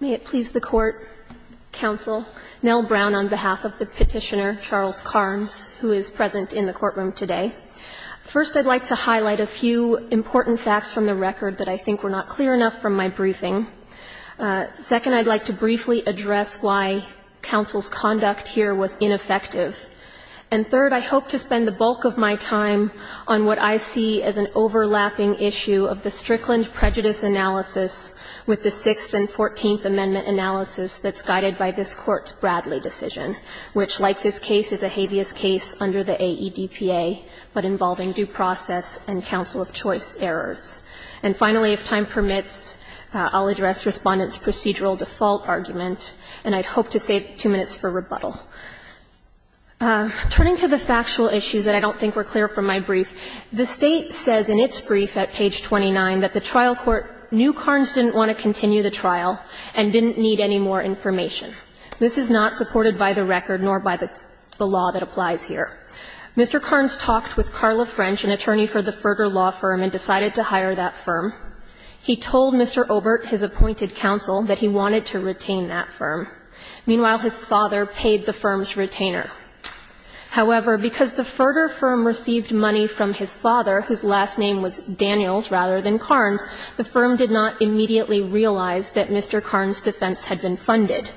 May it please the Court, Counsel, Nell Brown on behalf of the petitioner Charles Karnes, who is present in the courtroom today. First, I'd like to highlight a few important facts from the record that I think were not clear enough from my briefing. Second, I'd like to briefly address why counsel's conduct here was ineffective. And third, I hope to spend the bulk of my time on what I see as an overlapping issue of the Strickland prejudice analysis with the Sixth and Fourteenth Amendment analysis that's guided by this Court's Bradley decision, which, like this case, is a habeas case under the AEDPA, but involving due process and counsel of choice errors. And finally, if time permits, I'll address Respondent's procedural default argument, and I'd hope to save two minutes for rebuttal. Turning to the factual issues that I don't think were clear from my brief, the State says in its brief at page 29 that the trial court knew Karnes didn't want to continue the trial and didn't need any more information. This is not supported by the record nor by the law that applies here. Mr. Karnes talked with Carla French, an attorney for the Ferder Law Firm, and decided to hire that firm. He told Mr. Obert, his appointed counsel, that he wanted to retain that firm. Meanwhile, his father paid the firm's retainer. However, because the Ferder firm received money from his father, whose last name was Daniels rather than Karnes, the firm did not immediately realize that Mr. Karnes' defense had been funded.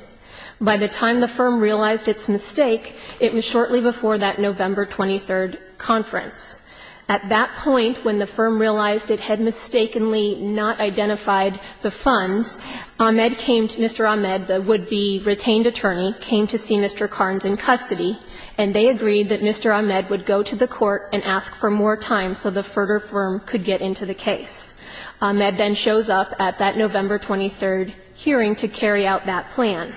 By the time the firm realized its mistake, it was shortly before that November 23rd conference. At that point, when the firm realized it had mistakenly not identified the funds, Ahmed came to Mr. Ahmed, the would-be retained attorney, came to see Mr. Karnes in custody, and they agreed that Mr. Ahmed would go to the court and ask for more time so the Ferder firm could get into the case. Ahmed then shows up at that November 23rd hearing to carry out that plan.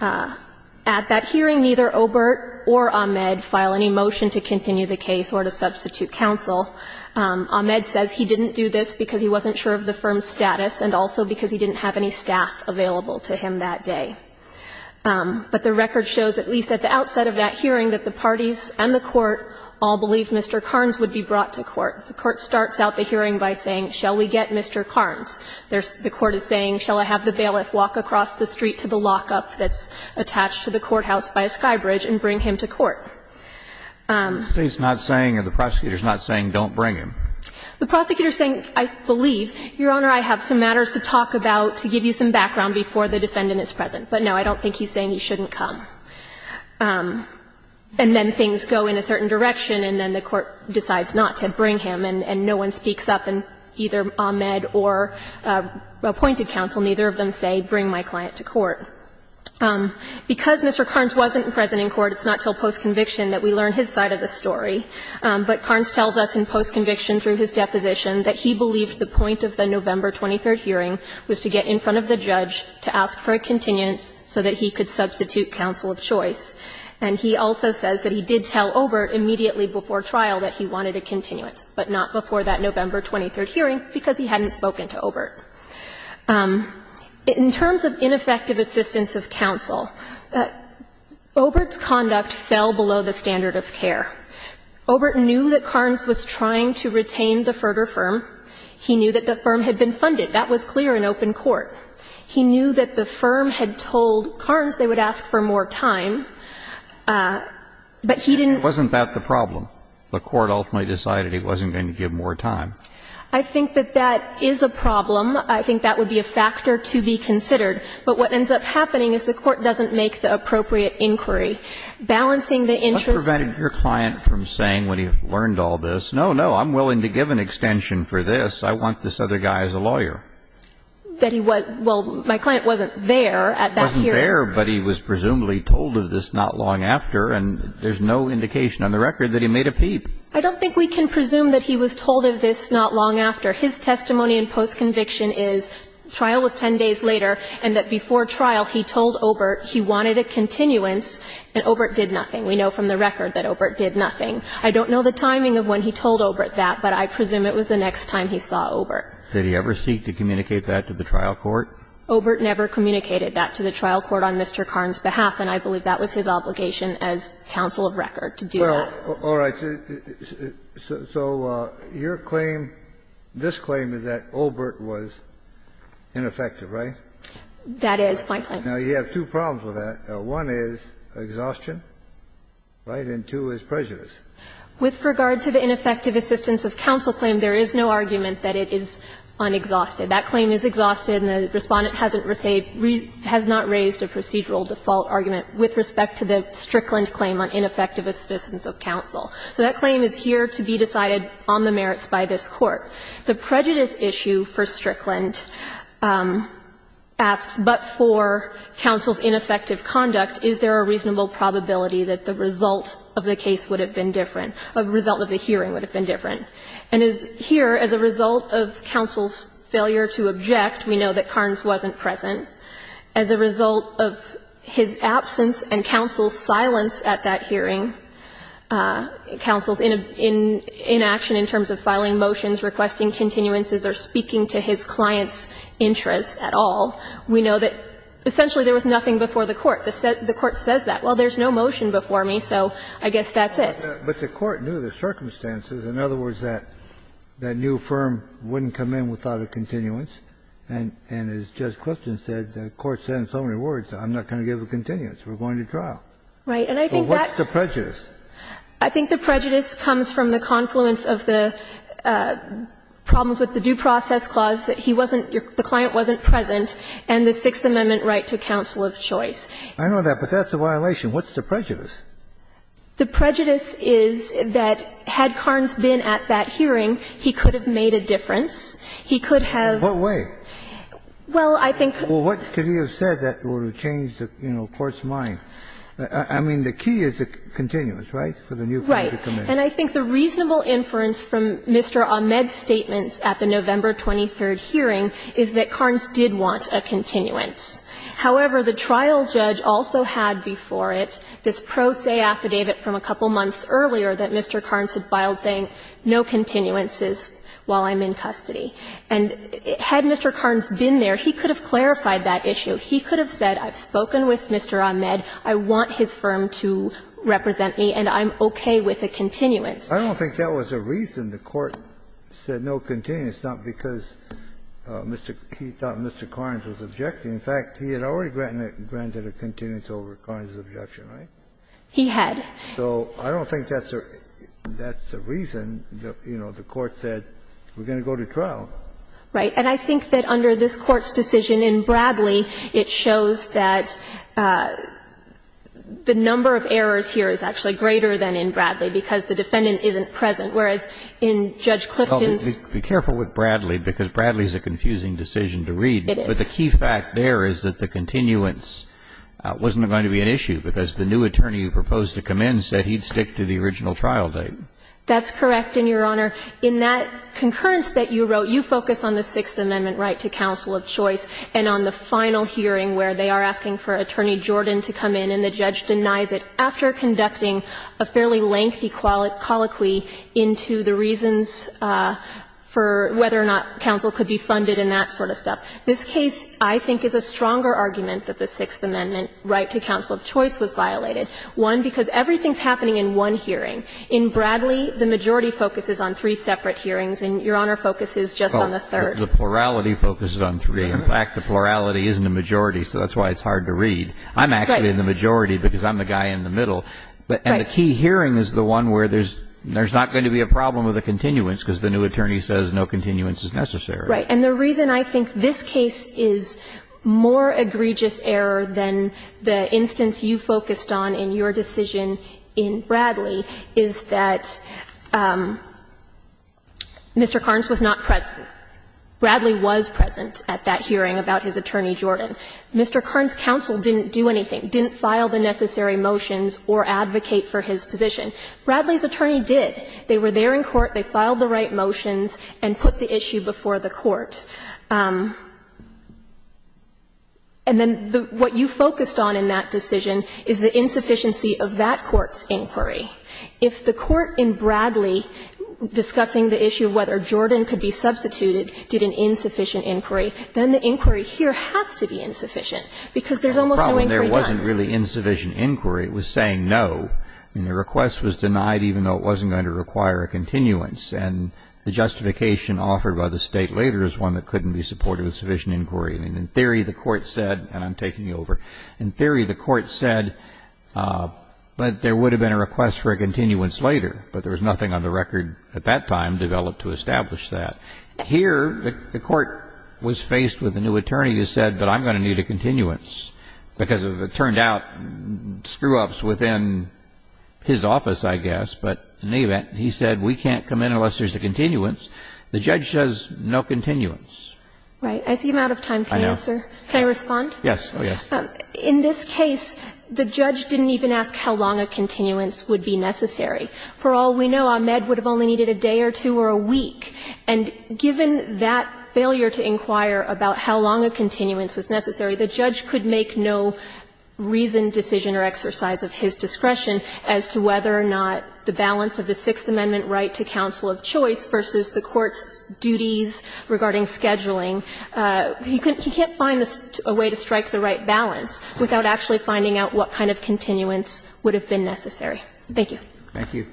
At that hearing, neither Obert or Ahmed file any motion to continue the case or to substitute counsel. Ahmed says he didn't do this because he wasn't sure of the firm's status and also because he didn't have any staff available to him that day. But the record shows, at least at the outset of that hearing, that the parties and the court all believed Mr. Karnes would be brought to court. The court starts out the hearing by saying, shall we get Mr. Karnes? The court is saying, shall I have the bailiff walk across the street to the lockup that's attached to the courthouse by a skybridge and bring him to court? Kennedy. The prosecutor is not saying don't bring him. The prosecutor is saying, I believe, Your Honor, I have some matters to talk about to give you some background before the defendant is present. But no, I don't think he's saying he shouldn't come. And then things go in a certain direction, and then the court decides not to bring him, and no one speaks up, and either Ahmed or appointed counsel, neither of them say, bring my client to court. Because Mr. Karnes wasn't present in court, it's not until postconviction that we learn his side of the story. But Karnes tells us in postconviction through his deposition that he believed the point of the November 23rd hearing was to get in front of the judge to ask for a continuance so that he could substitute counsel of choice. And he also says that he did tell Obert immediately before trial that he wanted a continuance, but not before that November 23rd hearing because he hadn't spoken to Obert. In terms of ineffective assistance of counsel, Obert's conduct fell below the standard of care. Obert knew that Karnes was trying to retain the Ferder firm. He knew that the firm had been funded. That was clear in open court. He knew that the firm had told Karnes they would ask for more time, but he didn't It wasn't that the problem. The court ultimately decided he wasn't going to give more time. I think that that is a problem. I think that would be a factor to be considered. But what ends up happening is the court doesn't make the appropriate inquiry. Balancing the interest What prevented your client from saying when he learned all this, no, no, I'm willing to give an extension for this. I want this other guy as a lawyer. That he was well, my client wasn't there at that hearing. Wasn't there, but he was presumably told of this not long after. And there's no indication on the record that he made a peep. I don't think we can presume that he was told of this not long after. His testimony in postconviction is trial was 10 days later and that before trial he told Obert he wanted a continuance and Obert did nothing. We know from the record that Obert did nothing. I don't know the timing of when he told Obert that, but I presume it was the next time he saw Obert. Did he ever seek to communicate that to the trial court? Obert never communicated that to the trial court on Mr. Karn's behalf, and I believe that was his obligation as counsel of record to do that. Well, all right. So your claim, this claim is that Obert was ineffective, right? That is my claim. Now, you have two problems with that. One is exhaustion, right, and two is prejudice. With regard to the ineffective assistance of counsel claim, there is no argument that it is unexhausted. That claim is exhausted and the Respondent hasn't raised a procedural default argument with respect to the Strickland claim on ineffective assistance of counsel. So that claim is here to be decided on the merits by this Court. The prejudice issue for Strickland asks, but for counsel's ineffective conduct, is there a reasonable probability that the result of the case would have been different, the result of the hearing would have been different? And here, as a result of counsel's failure to object, we know that Karns wasn't present. As a result of his absence and counsel's silence at that hearing, counsel's inaction in terms of filing motions, requesting continuances, or speaking to his client's interests at all, we know that essentially there was nothing before the Court. The Court says that. Well, there's no motion before me, so I guess that's it. Kennedy, but the Court knew the circumstances. In other words, that new firm wouldn't come in without a continuance, and as Judge Clifton said, the Court said in so many words, I'm not going to give a continuance, we're going to trial. Right. And I think that's the prejudice. I think the prejudice comes from the confluence of the problems with the due process clause that he wasn't, the client wasn't present, and the Sixth Amendment right to counsel of choice. I know that, but that's a violation. What's the prejudice? The prejudice is that had Carnes been at that hearing, he could have made a difference. He could have. In what way? Well, I think. Well, what could he have said that would have changed the Court's mind? I mean, the key is the continuance, right, for the new firm to come in? Right. And I think the reasonable inference from Mr. Ahmed's statements at the November 23 hearing is that Carnes did want a continuance. However, the trial judge also had before it this pro se affidavit from a couple months earlier that Mr. Carnes had filed saying no continuances while I'm in custody. And had Mr. Carnes been there, he could have clarified that issue. He could have said I've spoken with Mr. Ahmed, I want his firm to represent me, and I'm okay with a continuance. I don't think that was a reason the Court said no continuance, not because Mr. Keith thought Mr. Carnes was objecting. In fact, he had already granted a continuance over Carnes' objection, right? He had. So I don't think that's a reason, you know, the Court said we're going to go to trial. Right. And I think that under this Court's decision in Bradley, it shows that the number of errors here is actually greater than in Bradley, because the defendant isn't present, whereas in Judge Clifton's. Be careful with Bradley, because Bradley is a confusing decision to read. It is. But the key fact there is that the continuance wasn't going to be an issue, because the new attorney who proposed to come in said he'd stick to the original trial date. That's correct, and, Your Honor, in that concurrence that you wrote, you focus on the Sixth Amendment right to counsel of choice and on the final hearing where they are asking for Attorney Jordan to come in, and the judge denies it after conducting a fairly lengthy colloquy into the reasons for whether or not counsel could be funded in that sort of stuff. This case, I think, is a stronger argument that the Sixth Amendment right to counsel of choice was violated. One, because everything's happening in one hearing. In Bradley, the majority focuses on three separate hearings, and Your Honor focuses just on the third. Well, the plurality focuses on three. In fact, the plurality isn't a majority, so that's why it's hard to read. I'm actually in the majority, because I'm the guy in the middle. Right. And the key hearing is the one where there's not going to be a problem with a continuance, because the new attorney says no continuance is necessary. Right. And the reason I think this case is more egregious error than the instance you focused on in your decision in Bradley is that Mr. Carnes was not present. Bradley was present at that hearing about his attorney Jordan. Mr. Carnes' counsel didn't do anything, didn't file the necessary motions or advocate for his position. Bradley's attorney did. They were there in court. They filed the right motions and put the issue before the court. And then what you focused on in that decision is the insufficiency of that court's inquiry. If the court in Bradley, discussing the issue of whether Jordan could be substituted, did an insufficient inquiry, then the inquiry here has to be insufficient, because there's almost no inquiry done. The problem there wasn't really insufficient inquiry. It was saying no. I mean, the request was denied even though it wasn't going to require a continuance. And the justification offered by the State later is one that couldn't be supported with sufficient inquiry. I mean, in theory, the court said, and I'm taking you over, in theory, the court said that there would have been a request for a continuance later, but there was nothing on the record at that time developed to establish that. Here, the court was faced with a new attorney who said, but I'm going to need a continuance, because it turned out screw-ups within his office, I guess, but in any event, he said we can't come in unless there's a continuance. The judge says no continuance. Right. I see I'm out of time. I know. Can I respond? Yes. Oh, yes. In this case, the judge didn't even ask how long a continuance would be necessary. For all we know, Ahmed would have only needed a day or two or a week. And given that failure to inquire about how long a continuance was necessary, the judge could make no reason, decision or exercise of his discretion as to whether or not the balance of the Sixth Amendment right to counsel of choice versus the court's duties regarding scheduling. He can't find a way to strike the right balance without actually finding out what kind of continuance would have been necessary. Thank you. Thank you.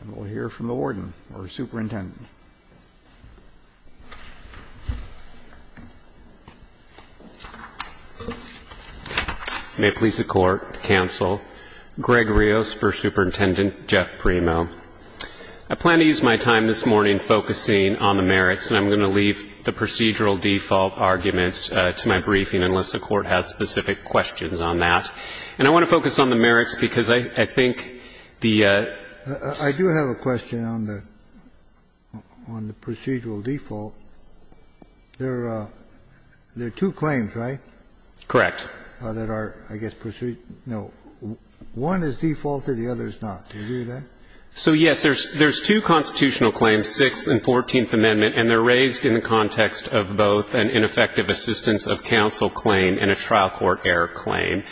And we'll hear from the warden or superintendent. May it please the Court, counsel. Greg Rios for Superintendent Jeff Primo. I plan to use my time this morning focusing on the merits, and I'm going to leave the procedural default arguments to my briefing unless the Court has specific questions on that. And I want to focus on the merits because I think the ---- I do have a question on the procedural default. There are two claims, right? Correct. That are, I guess, procedural. No. One is defaulted, the other is not. Do you agree with that? So, yes, there's two constitutional claims, Sixth and Fourteenth Amendment, and they're raised in the context of both an ineffective assistance of counsel claim and a trial court error claim.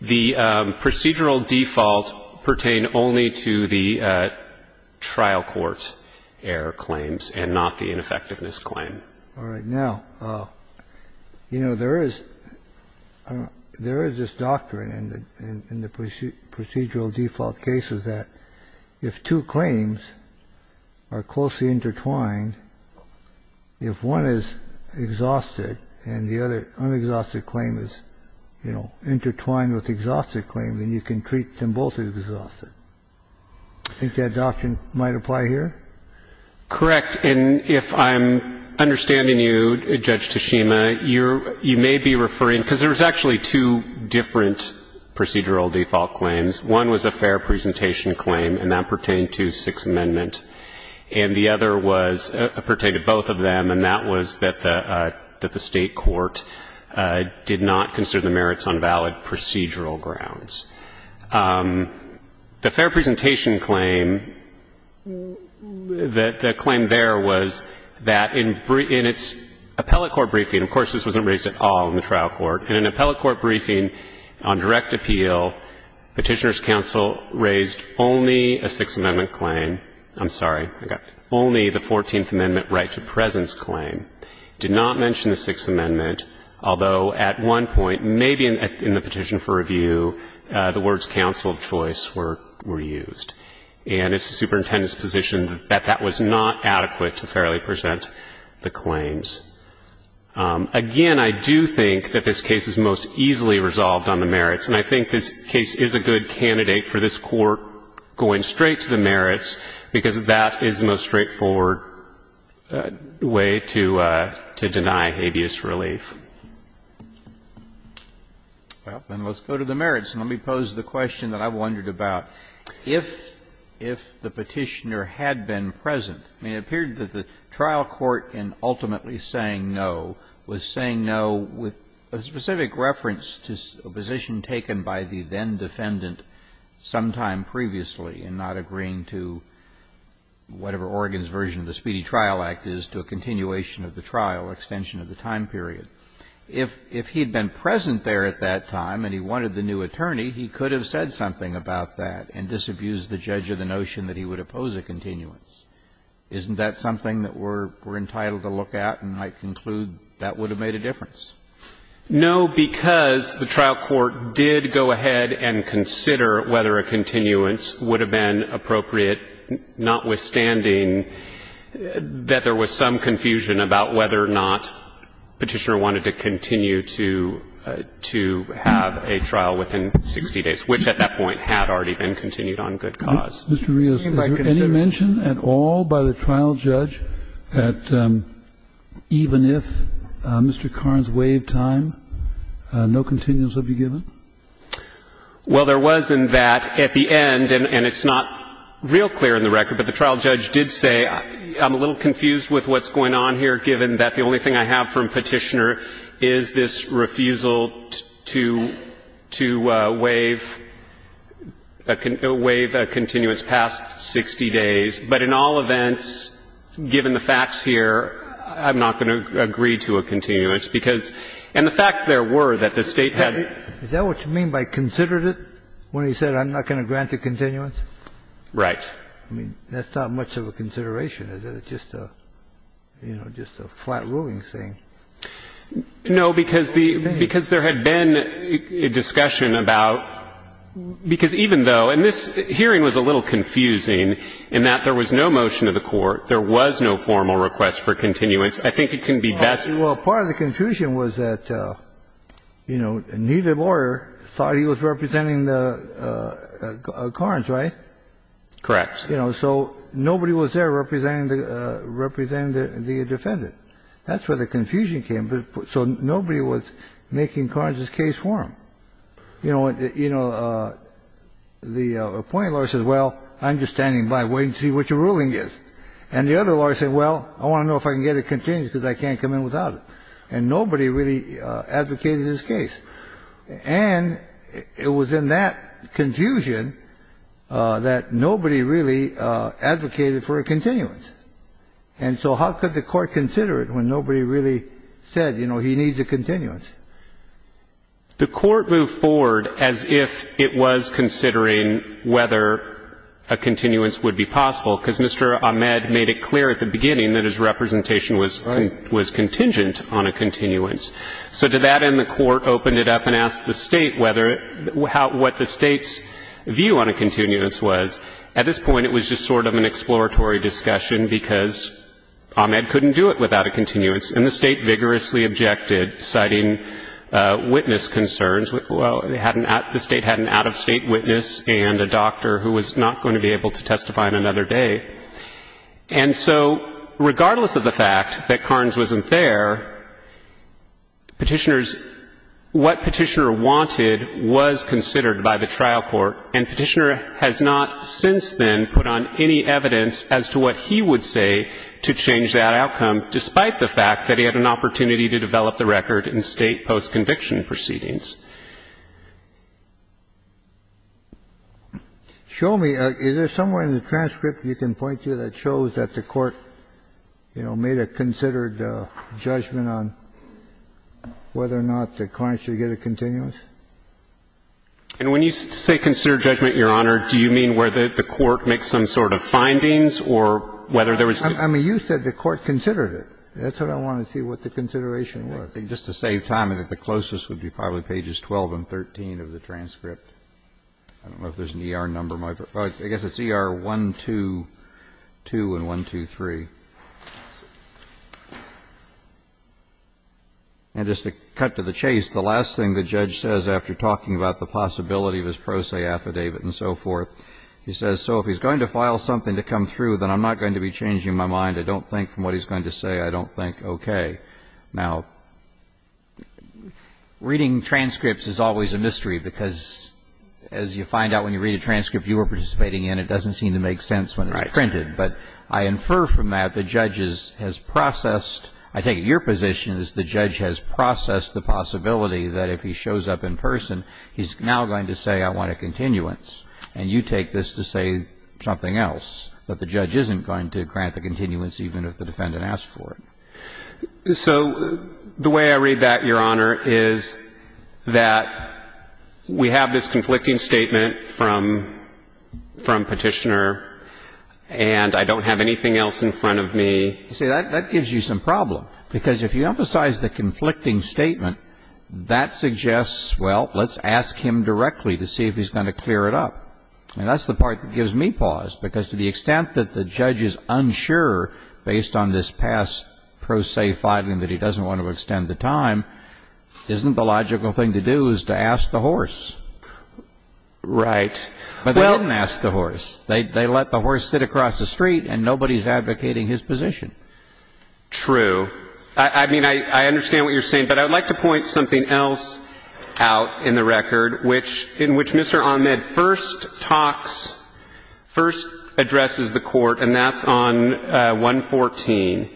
The procedural default pertain only to the trial court error claims and not the ineffectiveness claim. All right. Now, you know, there is this doctrine in the procedural default cases that if two claims are closely intertwined, if one is exhausted and the other unexhausted claim is, you know, intertwined with the exhausted claim, then you can treat them both as exhausted. Do you think that doctrine might apply here? Correct. And if I'm understanding you, Judge Toshima, you're ---- you may be referring ---- because there's actually two different procedural default claims. One was a fair presentation claim, and that pertained to Sixth Amendment. And the other was ---- pertained to both of them, and that was that the State court did not consider the merits on valid procedural grounds. The fair presentation claim, the claim there was that in its appellate court briefing ---- of course, this wasn't raised at all in the trial court ---- in an appellate court briefing on direct appeal, Petitioner's counsel raised only a Sixth Amendment claim ---- I'm sorry, I got it ---- only the Fourteenth Amendment right to presence claim, did not mention the Sixth Amendment, although at one point, maybe in the petition for review, the words counsel of choice were used. And it's the Superintendent's position that that was not adequate to fairly present the claims. Again, I do think that this case is most easily resolved on the merits, and I think this case is a good candidate for this Court going straight to the merits, because that is the most straightforward way to deny habeas relief. Well, then let's go to the merits, and let me pose the question that I've wondered about. If the Petitioner had been present, I mean, it appeared that the trial court in ultimately saying no was saying no with a specific reference to a position taken by the then-defendant sometime previously in not agreeing to whatever Oregon's version of the Speedy Trial Act is to a continuation of the trial, extension of the time period. If he had been present there at that time and he wanted the new attorney, he could have said something about that and disabused the judge of the notion that he would oppose a continuance. Isn't that something that we're entitled to look at, and I conclude that would have made a difference? No, because the trial court did go ahead and consider whether a continuance would have been appropriate, notwithstanding that there was some confusion about whether or not Petitioner wanted to continue to have a trial within 60 days, which at that point had already been continued on good cause. Mr. Rios, is there any mention at all by the trial judge that even if Mr. Karns waived time, no continuance would be given? Well, there was in that at the end, and it's not real clear in the record, but the trial judge did say, I'm a little confused with what's going on here, given that the only thing I have from Petitioner is this refusal to waive a continuance past 60 days, but in all events, given the facts here, I'm not going to agree to a continuance, because the facts there were that the State had to do with it. Is that what you mean by considered it, when he said I'm not going to grant a continuance? Right. I mean, that's not much of a consideration, is it? It's just a, you know, just a flat-ruling thing. No, because there had been a discussion about, because even though, and this hearing was a little confusing, in that there was no motion to the Court, there was no formal request for continuance. I think it can be best. Well, part of the confusion was that, you know, neither lawyer thought he was representing the Karns, right? Correct. You know, so nobody was there representing the defendant. That's where the confusion came, so nobody was making Karns' case for him. You know, the appointed lawyer says, well, I'm just standing by, waiting to see what your ruling is. And the other lawyer said, well, I want to know if I can get a continuance, because I can't come in without it. And nobody really advocated his case. And it was in that confusion that nobody really advocated for a continuance. And so how could the Court consider it when nobody really said, you know, he needs a continuance? The Court moved forward as if it was considering whether a continuance would be possible, because Mr. Ahmed made it clear at the beginning that his representation was contingent on a continuance. So to that end, the Court opened it up and asked the State whether what the State's view on a continuance was. At this point, it was just sort of an exploratory discussion, because Ahmed couldn't do it without a continuance. And the State vigorously objected, citing witness concerns. Well, the State had an out-of-state witness and a doctor who was not going to be able to testify on another day. And so regardless of the fact that Carnes wasn't there, Petitioner's — what Petitioner wanted was considered by the trial court. And Petitioner has not since then put on any evidence as to what he would say to change that outcome, despite the fact that he had an opportunity to develop the record in State post-conviction proceedings. Show me — is there somewhere in the transcript you can point to that shows that the Court, you know, made a considered judgment on whether or not the Carnes should get a continuance? And when you say considered judgment, Your Honor, do you mean where the Court makes some sort of findings or whether there was — I mean, you said the Court considered it. That's what I want to see, what the consideration was. Just to save time, I think the closest would be probably pages 12 and 13 of the transcript. I don't know if there's an ER number in my book. I guess it's ER 122 and 123. And just to cut to the chase, the last thing the judge says after talking about the possibility of his pro se affidavit and so forth, he says, so if he's going to file something to come through, then I'm not going to be changing my mind. I don't think from what he's going to say, I don't think, okay. Now, reading transcripts is always a mystery, because as you find out when you read a transcript you were participating in, it doesn't seem to make sense when it's printed. But I infer from that the judge has processed — I take it your position is the judge has processed the possibility that if he shows up in person, he's now going to say, I want a continuance. And you take this to say something else, that the judge isn't going to grant the continuance even if the defendant asks for it. So the way I read that, Your Honor, is that we have this conflicting statement from Petitioner, and I don't have anything else in front of me. You see, that gives you some problem, because if you emphasize the conflicting statement, that suggests, well, let's ask him directly to see if he's going to clear it up. And that's the part that gives me pause, because to the extent that the judge is unsure based on this past pro se filing that he doesn't want to extend the time, isn't the logical thing to do is to ask the horse. Right. But they didn't ask the horse. They let the horse sit across the street, and nobody's advocating his position. True. I mean, I understand what you're saying, but I would like to point something else out in the record, in which Mr. Ahmed first talks, first addresses the Court, and that's on 114.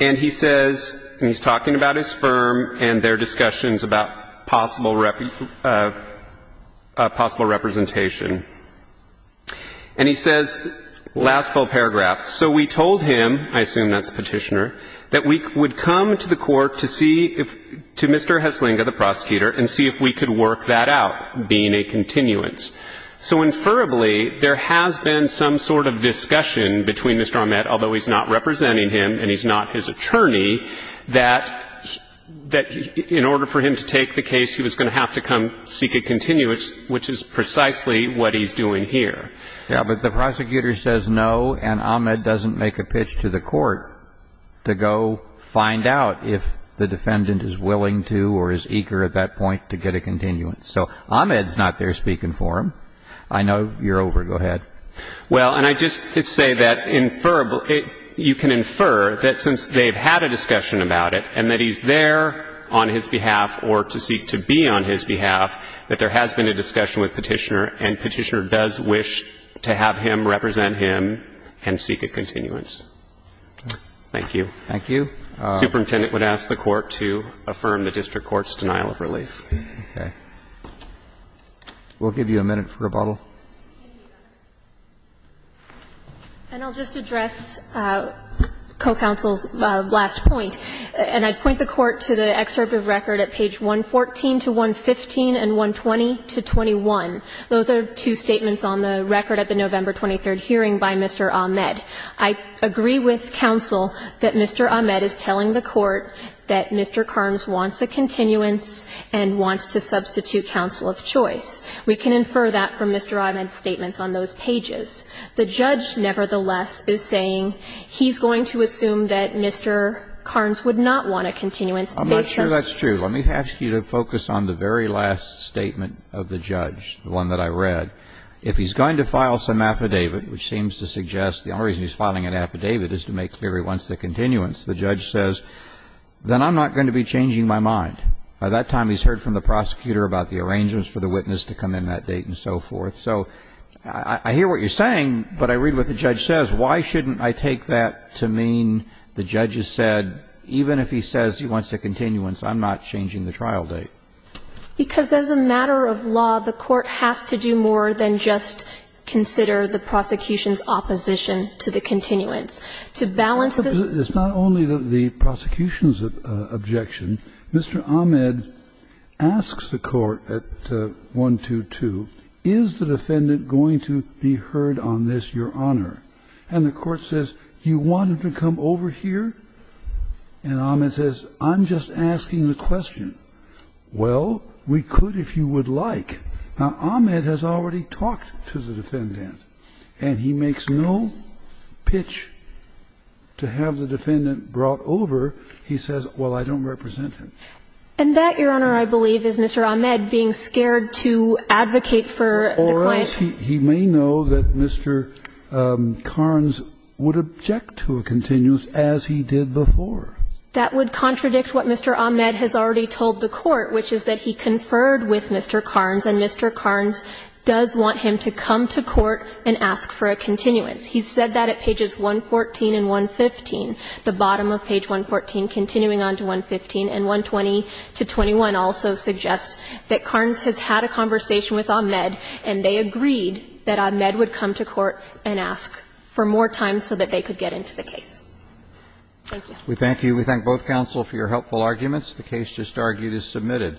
And he says, and he's talking about his firm and their discussions about possible representation. And he says, last full paragraph, so we told him, I assume that's Petitioner, that we would come to the Court to see, to Mr. Heslinga, the prosecutor, and see if we could work that out, being a continuance. So, inferably, there has been some sort of discussion between Mr. Ahmed, although he's not representing him and he's not his attorney, that in order for him to take the case, he was going to have to come seek a continuance, which is precisely what he's doing here. Yeah, but the prosecutor says no, and Ahmed doesn't make a pitch to the Court to go find out if the defendant is willing to or is eager at that point to get a continuance. So Ahmed's not there speaking for him. I know you're over. Go ahead. Well, and I just say that inferably, you can infer that since they've had a discussion about it, and that he's there on his behalf or to seek to be on his behalf, that there has been a discussion with Petitioner, and Petitioner does wish to have him represent him and seek a continuance. Thank you. Thank you. Superintendent would ask the Court to affirm the district court's denial of relief. Okay. We'll give you a minute for rebuttal. And I'll just address co-counsel's last point, and I'd point the Court to the excerpt of record at page 114 to 115 and 120 to 21. Those are two statements on the record at the November 23 hearing by Mr. Ahmed. I agree with counsel that Mr. Ahmed is telling the Court that Mr. Carnes wants a continuance and wants to substitute counsel of choice. We can infer that from Mr. Ahmed's statements on those pages. The judge, nevertheless, is saying he's going to assume that Mr. Carnes would not want a continuance based on the verdict. I'm not sure that's true. Let me ask you to focus on the very last statement of the judge, the one that I read. If he's going to file some affidavit, which seems to suggest the only reason he's filing an affidavit is to make clear he wants the continuance, the judge says, then I'm not going to be changing my mind. By that time, he's heard from the prosecutor about the arrangements for the witness to come in that date and so forth. So I hear what you're saying, but I read what the judge says. Why shouldn't I take that to mean the judge has said, even if he says he wants a continuance, I'm not changing the trial date? Because as a matter of law, the Court has to do more than just consider the prosecution's opposition to the continuance. To balance the ---- It's not only the prosecution's objection. Mr. Ahmed asks the Court at 122, is the defendant going to be heard on this, Your Honor? And the Court says, you want him to come over here? And Ahmed says, I'm just asking the question. Well, we could if you would like. Now, Ahmed has already talked to the defendant, and he makes no pitch to have the defendant brought over. He says, well, I don't represent him. And that, Your Honor, I believe is Mr. Ahmed being scared to advocate for the client. He may know that Mr. Carnes would object to a continuance, as he did before. That would contradict what Mr. Ahmed has already told the Court, which is that he conferred with Mr. Carnes, and Mr. Carnes does want him to come to court and ask for a continuance. He said that at pages 114 and 115, the bottom of page 114, continuing on to 115, and 120 to 21 also suggest that Carnes has had a conversation with Ahmed, and they agreed that Ahmed would come to court and ask for more time so that they could get into the case. Thank you. We thank you. We thank both counsel for your helpful arguments. The case just argued is submitted.